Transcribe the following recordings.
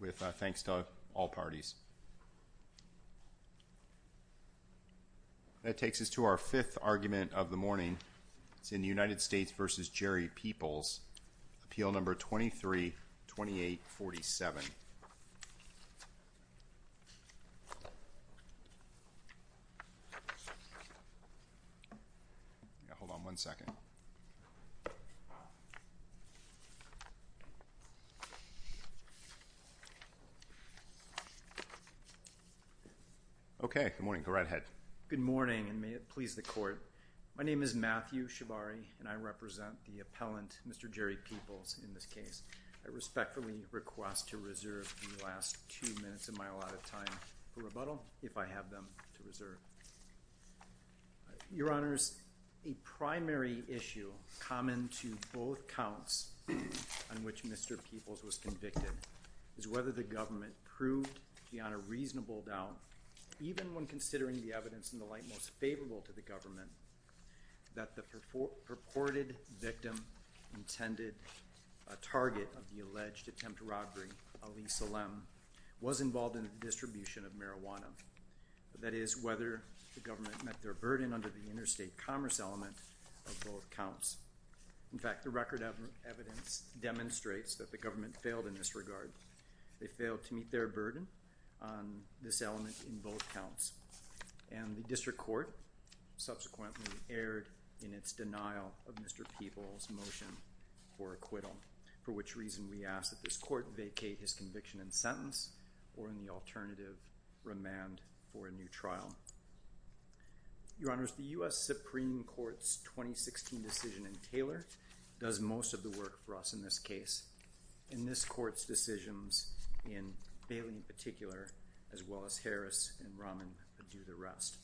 with thanks to all parties. That takes us to our fifth argument of the morning. It's in the United States v. Jerry Peoples, Appeal No. 23-2847. Hold on one second. Okay, good morning. Go right ahead. Good morning, and may it please the Court. My name is Matthew Shibari, and I represent the appellant, Mr. Jerry Peoples, in this case. I respectfully request to reserve the last two minutes of my allotted time for rebuttal, if I have them to reserve. Your Honors, a primary issue common to both counts on which Mr. Peoples was convicted is whether the government proved beyond a reasonable doubt, even when considering the evidence in the light most favorable to the government, that the purported victim intended a target of the alleged attempt to robbery, Alisa Lem, was involved in the distribution of marijuana. That is, whether the government met their burden under the interstate commerce element of both counts. In fact, the record evidence demonstrates that the government failed in this regard. They failed to meet their burden on this element in both counts. And the District Court subsequently erred in its denial of Mr. Peoples' motion for acquittal, for which reason we ask that this Court vacate his conviction and sentence or, in the alternative, remand for a new trial. Your Honors, the U.S. Supreme Court's 2016 decision in Taylor does most of the work for us in this case. In this Court's decisions, in Bailey in particular, as well as Harris and Raman do the rest.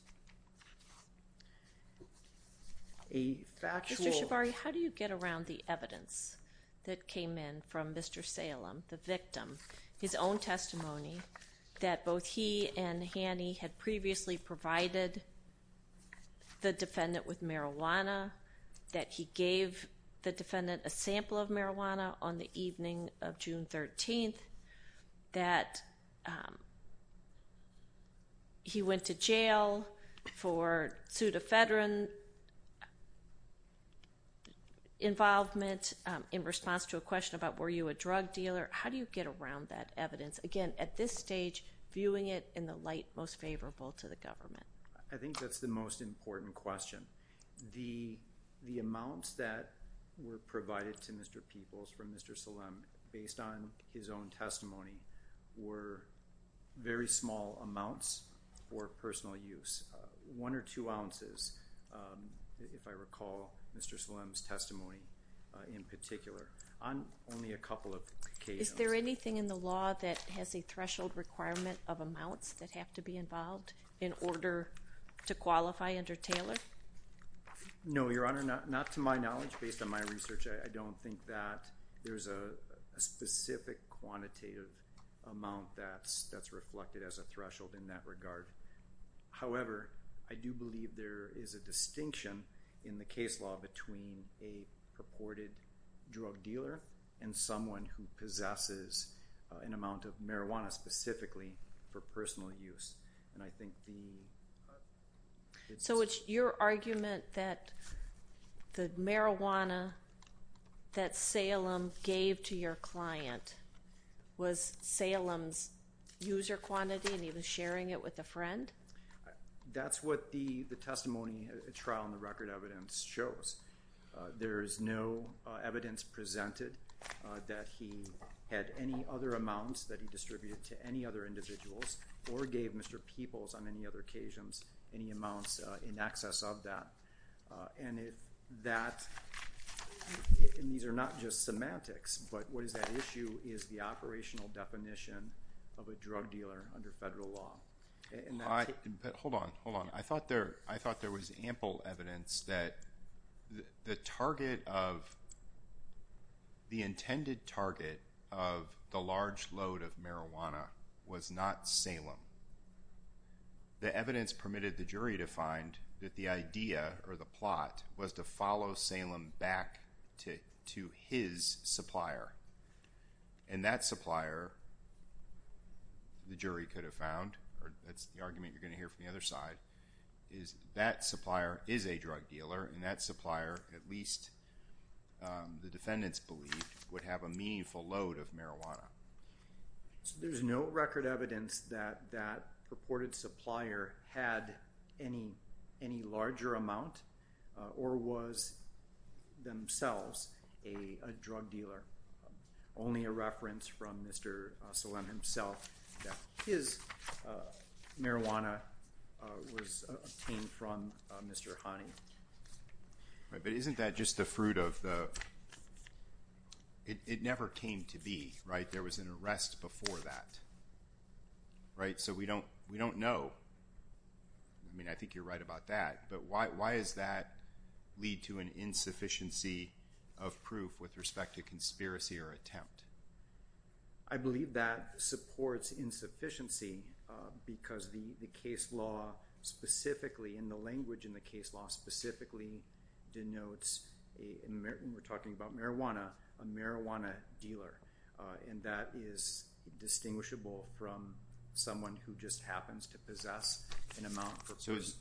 A factual... Mr. Shabari, how do you get around the evidence that came in from Mr. Salem, the victim, his own testimony that both he and Hanny had previously provided the defendant with marijuana, that he gave the defendant a sample of marijuana on the evening of June 13th, that he went to jail for pseudo-federal involvement in response to a question about were you a drug dealer? How do you get around that evidence? Again, at this stage, viewing it in the light most favorable to the government. I think that's the most important question. The amounts that were provided to Mr. Peoples from Mr. Salem based on his own testimony were very small amounts for personal use. One or two ounces, if I recall, Mr. Salem's testimony in particular, on only a couple of occasions. Is there anything in the law that has a threshold requirement of amounts that have to be involved in order to qualify under Taylor? No, Your Honor, not to my knowledge. Based on my research, I don't think that there's a specific quantitative amount that's reflected as a threshold in that regard. However, I do believe there is a distinction in the case law between a purported drug dealer and someone who possesses an amount of marijuana specifically for personal use. And I think the... So it's your argument that the marijuana that Salem gave to your client was Salem's user quantity and he was sharing it with a friend? That's what the testimony trial and the record evidence shows. There is no evidence presented that he had any other amounts that he distributed to any other individuals or gave Mr. Peoples on any other occasions any amounts in excess of that. And if that... And these are not just semantics, but what is at issue is the operational definition of a drug dealer under federal law. Hold on, hold on. I thought there was ample evidence that the target of... the intended target of the large load of marijuana was not Salem. The evidence permitted the jury to find that the idea or the plot was to follow Salem back to his supplier. And that supplier, the jury could have found, or that's the argument you're going to hear from the other side, is that supplier is a drug dealer and that supplier, at least the defendants believed, would have a meaningful load of marijuana. So there's no record evidence that that purported supplier had any larger amount or was themselves a drug dealer. Only a reference from Mr. Salem himself that his marijuana was obtained from Mr. Hani. But isn't that just the fruit of the... It never came to be, right? There was an arrest before that, right? So we don't know. I mean, I think you're right about that, but why does that lead to an insufficiency of proof with respect to conspiracy or attempt? I believe that supports insufficiency because the case law specifically, and the language in the case law specifically denotes, and we're talking about marijuana, a marijuana dealer. And that is distinguishable from someone who just happens to possess an amount.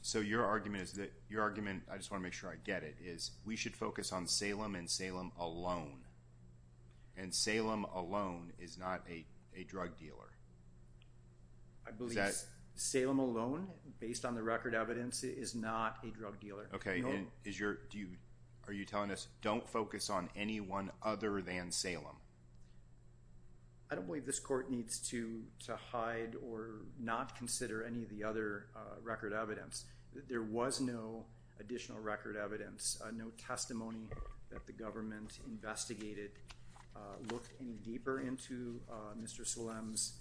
So your argument is that... Your argument, I just want to make sure I get it, is we should focus on Salem and Salem alone. And Salem alone is not a drug dealer. I believe Salem alone, based on the record evidence, is not a drug dealer. Okay, and are you telling us don't focus on anyone other than Salem? I don't believe this court needs to hide or not consider any of the other record evidence. There was no additional record evidence, no testimony that the government investigated, looked any deeper into Mr. Salem's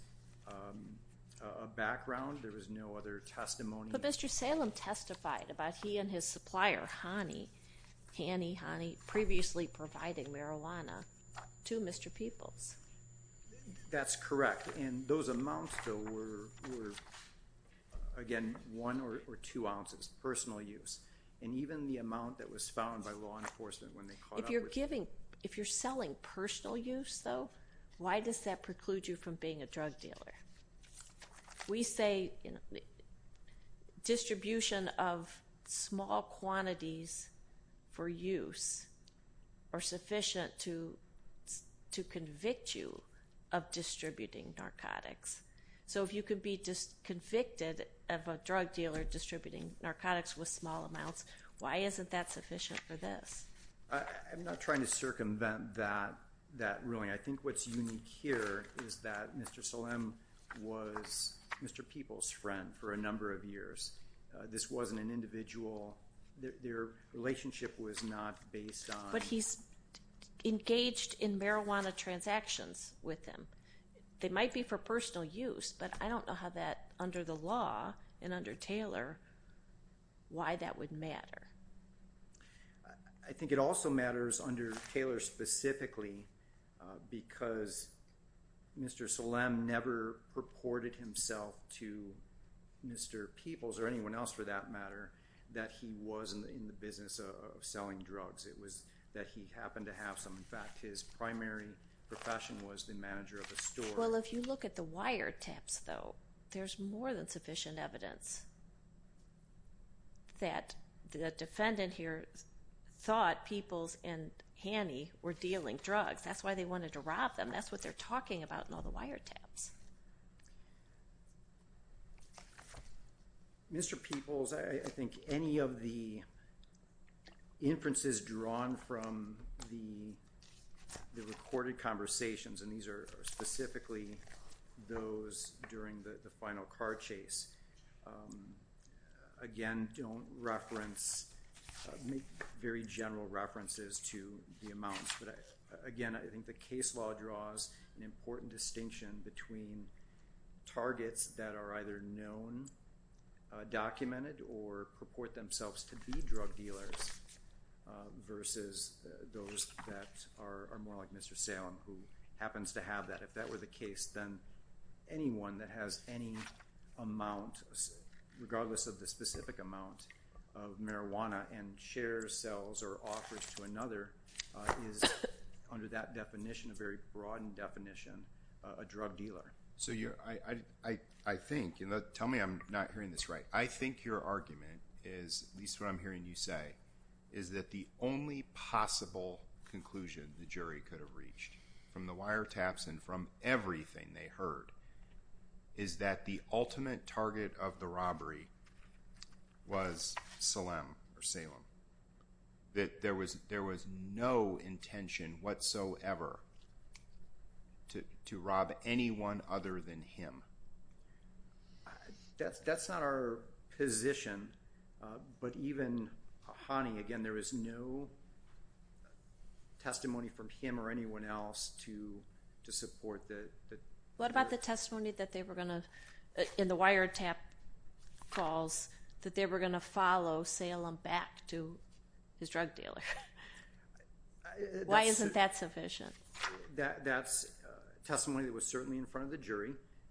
background. There was no other testimony. But Mr. Salem testified about he and his supplier, Hany, Hany, Hany, previously providing marijuana to Mr. Peoples. That's correct. And those amounts, though, were, again, one or two ounces, personal use. And even the amount that was found by law enforcement when they caught up with him. If you're selling personal use, though, why does that preclude you from being a drug dealer? We say distribution of small quantities for use are sufficient to convict you of distributing narcotics. So if you could be convicted of a drug dealer distributing narcotics with small amounts, why isn't that sufficient for this? I'm not trying to circumvent that ruling. I think what's unique here is that Mr. Salem was Mr. Peoples' friend for a number of years. This wasn't an individual. Their relationship was not based on... But he's engaged in marijuana transactions with him. They might be for personal use, but I don't know how that, under the law and under Taylor, why that would matter. I think it also matters under Taylor specifically because Mr. Salem never purported himself to Mr. Peoples, or anyone else for that matter, that he was in the business of selling drugs. It was that he happened to have some. In fact, his primary profession was the manager of a store. Well, if you look at the wiretaps, though, there's more than sufficient evidence that the defendant here thought Peoples and Hanney were dealing drugs. That's why they wanted to rob them. That's what they're talking about in all the wiretaps. Mr. Peoples, I think any of the inferences drawn from the recorded conversations, and these are specifically those during the final car chase, again, don't reference, make very general references to the amounts. But again, I think the case law draws an important distinction between targets that are either known, documented, or purport themselves to be drug dealers versus those that are more like Mr. Salem who happens to have that. If that were the case, then anyone that has any amount, regardless of the specific amount of marijuana, and shares, sells, or offers to another, is under that definition, a very broadened definition, a drug dealer. So I think, and tell me I'm not hearing this right, I think your argument is, at least what I'm hearing you say, is that the only possible conclusion the jury could have reached from the wiretaps and from everything they heard is that the ultimate target of the robbery was Salem, that there was no intention whatsoever to rob anyone other than him. That's not our position, but even Hani, again, there is no testimony from him or anyone else to support that. What about the testimony that they were going to, in the wiretap calls, that they were going to follow Salem back to his drug dealer? Why isn't that sufficient? That's testimony that was certainly in front of the jury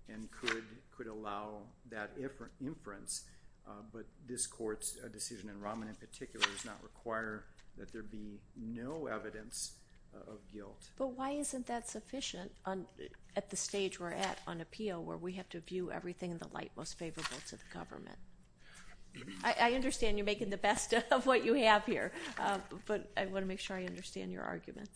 and could allow that inference, but this court's decision, and Rahman in particular, does not require that there be no evidence of guilt. But why isn't that sufficient at the stage we're at on appeal where we have to view everything in the light most favorable to the government? I understand you're making the best of what you have here, but I want to make sure I understand your argument.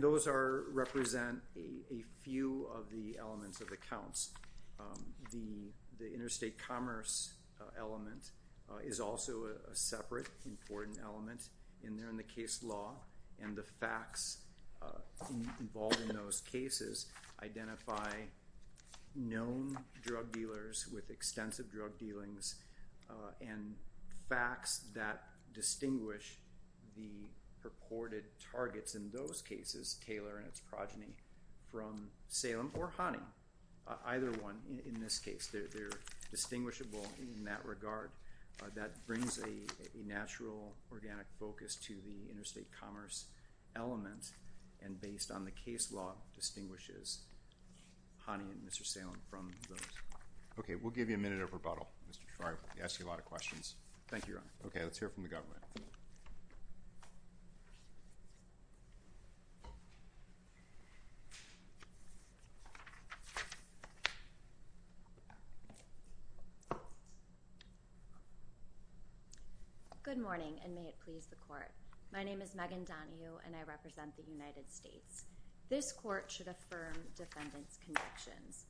Those represent a few of the elements of the counts. The interstate commerce element is also a separate important element in the case law, and the facts involved in those cases identify known drug dealers with extensive drug dealings and facts that distinguish the purported targets in those cases, Taylor and its progeny, from Salem or Hani, either one in this case. They're distinguishable in that regard. That brings a natural, organic focus to the interstate commerce element, and based on the case law, distinguishes Hani and Mr. Salem from those. Okay, we'll give you a minute of rebuttal. Sorry, we asked you a lot of questions. Thank you, Your Honor. Okay, let's hear from the government. Good morning, and may it please the court. My name is Megan Donahue, and I represent the United States. This court should affirm defendant's convictions.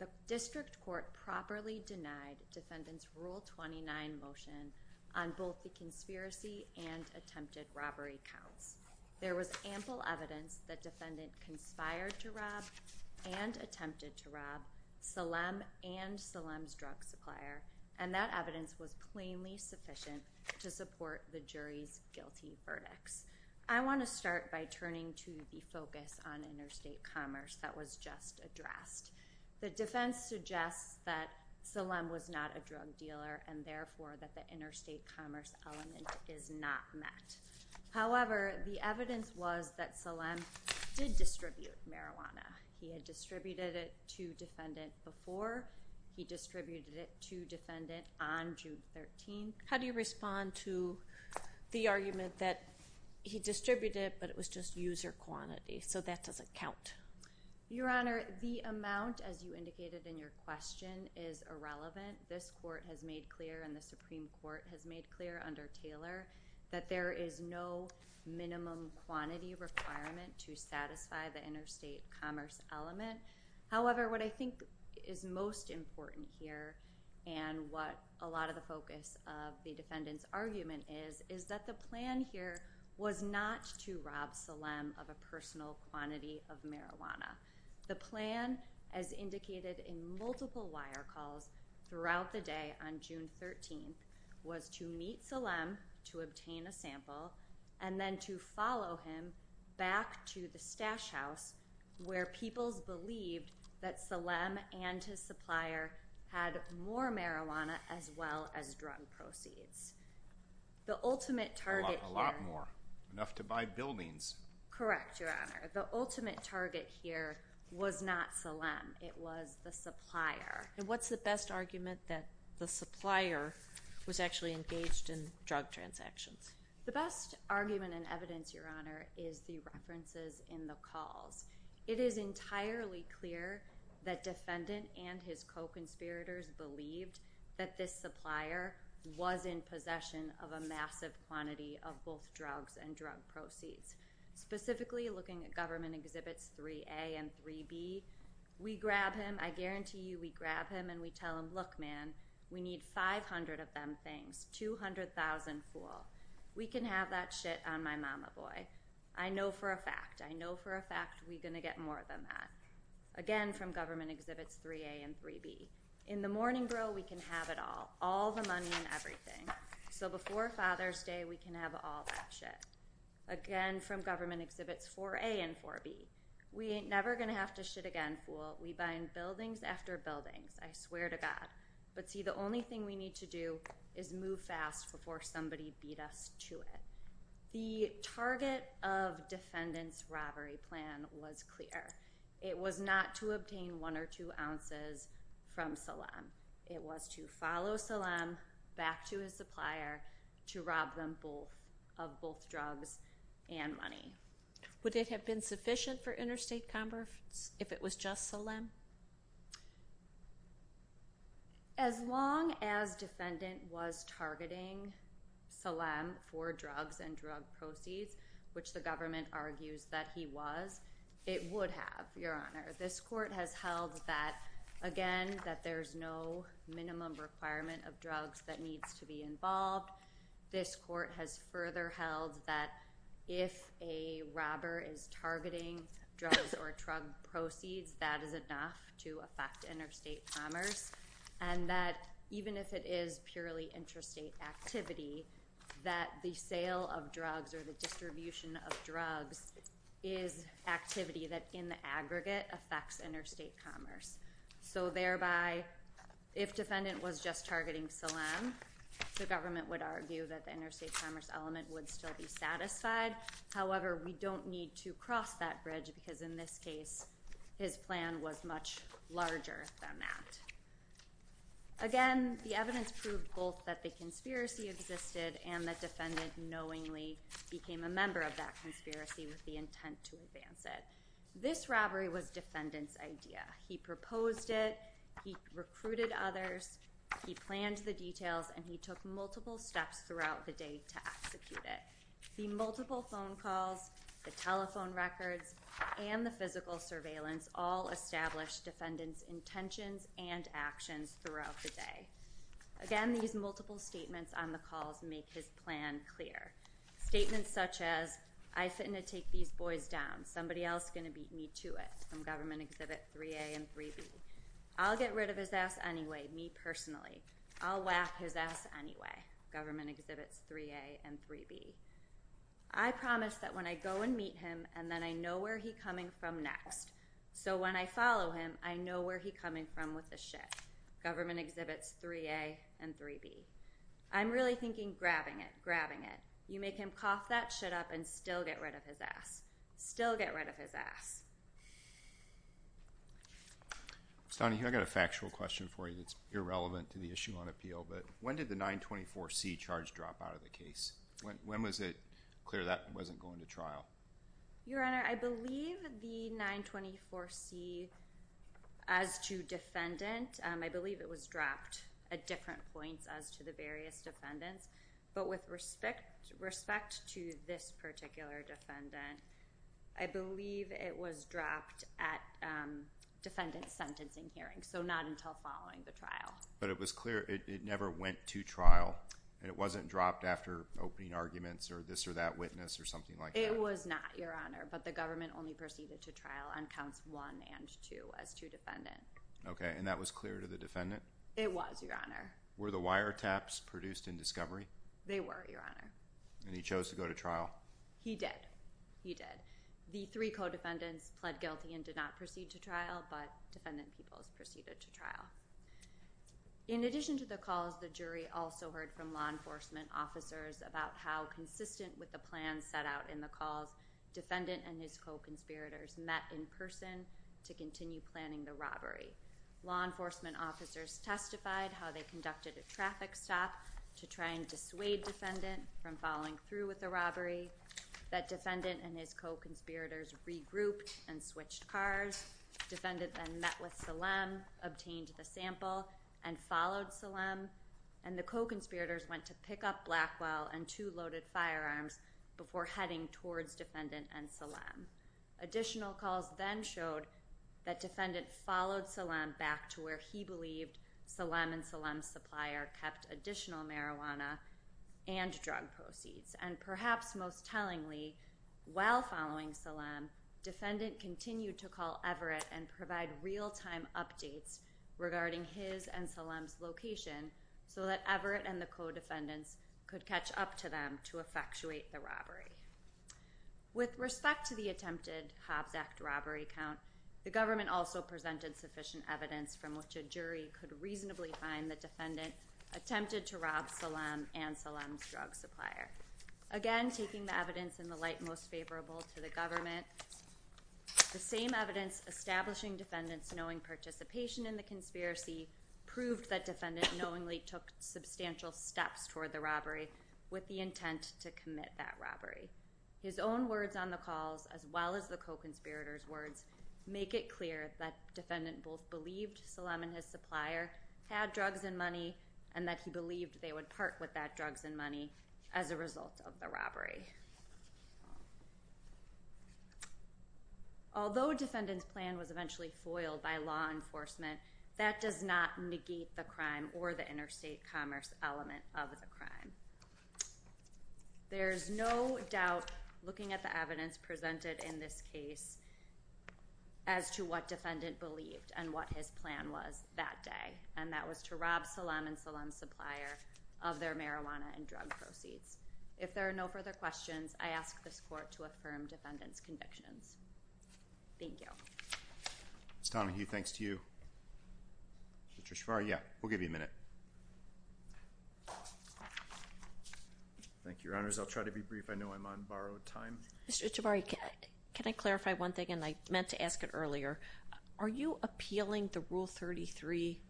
The district court properly denied defendant's Rule 29 motion on both the conspiracy and attempted robbery counts. There was ample evidence that defendant conspired to rob and attempted to rob Salem and Salem's drug supplier, and that evidence was plainly sufficient to support the jury's guilty verdicts. I want to start by turning to the focus on interstate commerce that was just addressed. The defense suggests that Salem was not a drug dealer, and therefore that the interstate commerce element is not met. However, the evidence was that Salem did distribute marijuana. He had distributed it to defendant before. He distributed it to defendant on June 13th. How do you respond to the argument that he distributed it, but it was just user quantity, so that doesn't count? Your Honor, the amount, as you indicated in your question, is irrelevant. This court has made clear and the Supreme Court has made clear under Taylor that there is no minimum quantity requirement to satisfy the interstate commerce element. However, what I think is most important here and what a lot of the focus of the defendant's argument is is that the plan here was not to rob Salem of a personal quantity of marijuana. The plan, as indicated in multiple wire calls throughout the day on June 13th, was to meet Salem to obtain a sample and then to follow him back to the stash house where peoples believed that Salem and his supplier had more marijuana as well as drug proceeds. The ultimate target here— A lot more. Enough to buy buildings. Correct, Your Honor. The ultimate target here was not Salem. It was the supplier. And what's the best argument that the supplier was actually engaged in drug transactions? The best argument and evidence, Your Honor, is the references in the calls. It is entirely clear that defendant and his co-conspirators believed that this supplier was in possession of a massive quantity of both drugs and drug proceeds. Specifically, looking at Government Exhibits 3A and 3B, we grab him—I guarantee you we grab him and we tell him, Look, man, we need 500 of them things, 200,000, fool. We can have that shit on my mama, boy. I know for a fact, I know for a fact we're going to get more than that. Again, from Government Exhibits 3A and 3B. In the morning, bro, we can have it all. All the money and everything. So before Father's Day, we can have all that shit. Again, from Government Exhibits 4A and 4B. We ain't never going to have to shit again, fool. We buy in buildings after buildings, I swear to God. But see, the only thing we need to do is move fast before somebody beat us to it. The target of defendant's robbery plan was clear. It was not to obtain one or two ounces from Salem. It was to follow Salem back to his supplier to rob them of both drugs and money. Would it have been sufficient for interstate commerce if it was just Salem? As long as defendant was targeting Salem for drugs and drug proceeds, which the government argues that he was, it would have, Your Honor. This court has held that, again, that there's no minimum requirement of drugs that needs to be involved. This court has further held that if a robber is targeting drugs or drug proceeds, that is enough to affect interstate commerce. And that even if it is purely interstate activity, that the sale of drugs or the distribution of drugs is activity that in the aggregate affects interstate commerce. So thereby, if defendant was just targeting Salem, the government would argue that the interstate commerce element would still be satisfied. However, we don't need to cross that bridge because in this case, his plan was much larger than that. Again, the evidence proved both that the conspiracy existed and that defendant knowingly became a member of that conspiracy with the intent to advance it. This robbery was defendant's idea. He proposed it. He recruited others. He planned the details, and he took multiple steps throughout the day to execute it. The multiple phone calls, the telephone records, and the physical surveillance all established defendant's intentions and actions throughout the day. Again, these multiple statements on the calls make his plan clear. Statements such as, I fit in to take these boys down. Somebody else is going to beat me to it from government exhibit 3A and 3B. I'll get rid of his ass anyway. Me personally. I'll whack his ass anyway. Government exhibits 3A and 3B. I promise that when I go and meet him and then I know where he's coming from next, so when I follow him, I know where he's coming from with the shit. Government exhibits 3A and 3B. I'm really thinking grabbing it, grabbing it. You make him cough that shit up and still get rid of his ass. Still get rid of his ass. Stani, I've got a factual question for you that's irrelevant to the issue on appeal, but when did the 924C charge drop out of the case? When was it clear that wasn't going to trial? Your Honor, I believe the 924C, as to defendant, I believe it was dropped at different points as to the various defendants, but with respect to this particular defendant, I believe it was dropped at defendant's sentencing hearing, so not until following the trial. But it was clear it never went to trial, and it wasn't dropped after opening arguments or this or that witness or something like that? It was not, Your Honor, but the government only proceeded to trial on counts one and two as to defendant. Okay, and that was clear to the defendant? It was, Your Honor. Were the wiretaps produced in discovery? They were, Your Honor. And he chose to go to trial? He did. He did. The three co-defendants pled guilty and did not proceed to trial, but defendant Peoples proceeded to trial. In addition to the calls, the jury also heard from law enforcement officers about how consistent with the plans set out in the calls, defendant and his co-conspirators met in person to continue planning the robbery. Law enforcement officers testified how they conducted a traffic stop to try and dissuade defendant from following through with the robbery, that defendant and his co-conspirators regrouped and switched cars. Defendant then met with Salem, obtained the sample, and followed Salem, and the co-conspirators went to pick up Blackwell and two loaded firearms before heading towards defendant and Salem. Additional calls then showed that defendant followed Salem back to where he believed Salem and Salem's supplier kept additional marijuana and drug proceeds. And perhaps most tellingly, while following Salem, defendant continued to call Everett and provide real-time updates regarding his and Salem's location so that Everett and the co-defendants could catch up to them to effectuate the robbery. With respect to the attempted Hobbs Act robbery count, the government also presented sufficient evidence from which a jury could reasonably find the defendant attempted to rob Salem and Salem's drug supplier. Again, taking the evidence in the light most favorable to the government, the same evidence establishing defendant's knowing participation in the conspiracy proved that defendant knowingly took substantial steps toward the robbery with the intent to commit that robbery. His own words on the calls, as well as the co-conspirators' words, make it clear that defendant both believed Salem and his supplier had drugs and money and that he believed they would part with that drugs and money as a result of the robbery. Although defendant's plan was eventually foiled by law enforcement, that does not negate the crime or the interstate commerce element of the crime. There is no doubt looking at the evidence presented in this case as to what defendant believed and what his plan was that day, and that was to rob Salem and Salem's supplier of their marijuana and drug proceeds. If there are no further questions, I ask this court to affirm defendant's convictions. Thank you. Ms. Donahue, thanks to you. Mr. Ciavarri, yeah, we'll give you a minute. Thank you, Your Honors. I'll try to be brief. I know I'm on borrowed time. Mr. Ciavarri, can I clarify one thing, and I meant to ask it earlier? Are you appealing the Rule 33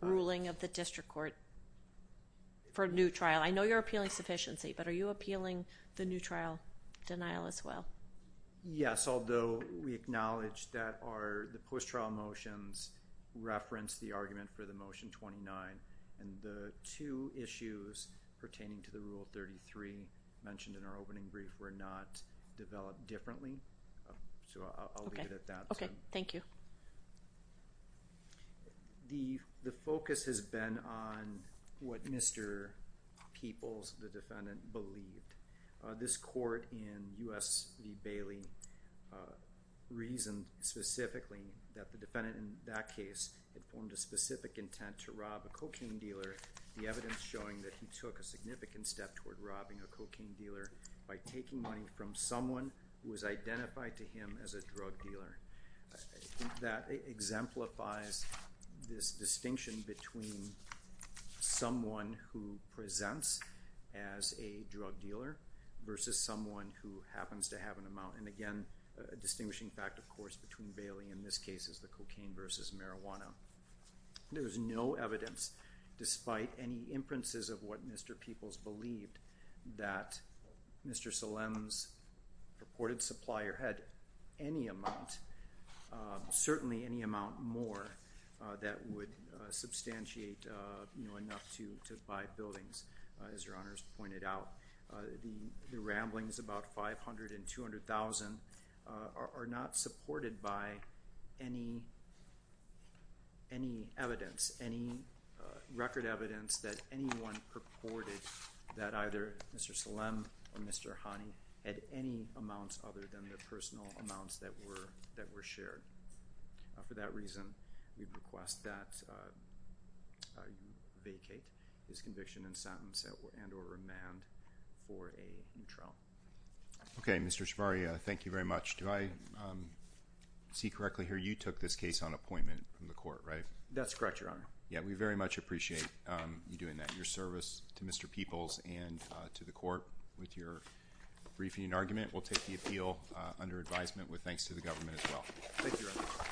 ruling of the district court for a new trial? I know you're appealing sufficiency, but are you appealing the new trial denial as well? Yes, although we acknowledge that the post-trial motions reference the argument for the Motion 29, and the two issues pertaining to the Rule 33 mentioned in our opening brief were not developed differently. So I'll leave it at that. Okay. Thank you. The focus has been on what Mr. Peoples, the defendant, believed. This court in U.S. v. Bailey reasoned specifically that the defendant in that case had formed a specific intent to rob a cocaine dealer, the evidence showing that he took a significant step toward robbing a cocaine dealer by taking money from someone who was identified to him as a drug dealer. I think that exemplifies this distinction between someone who presents as a drug dealer versus someone who happens to have an amount. And again, a distinguishing fact, of course, between Bailey in this case is the cocaine versus marijuana. There is no evidence, despite any inferences of what Mr. Peoples believed, that Mr. Solem's purported supplier had any amount, certainly any amount more, that would substantiate enough to buy buildings, as Your Honors pointed out. The ramblings about $500,000 and $200,000 are not supported by any evidence, any record evidence that anyone purported that either Mr. Solem or Mr. Hani had any amounts other than their personal amounts that were shared. For that reason, we request that you vacate his conviction and sentence and or remand for a new trial. Okay, Mr. Shabari, thank you very much. Do I see correctly here you took this case on appointment from the court, right? That's correct, Your Honor. Yeah, we very much appreciate you doing that. Your service to Mr. Peoples and to the court with your briefing and argument. We'll take the appeal under advisement with thanks to the government as well. Thank you, Your Honor.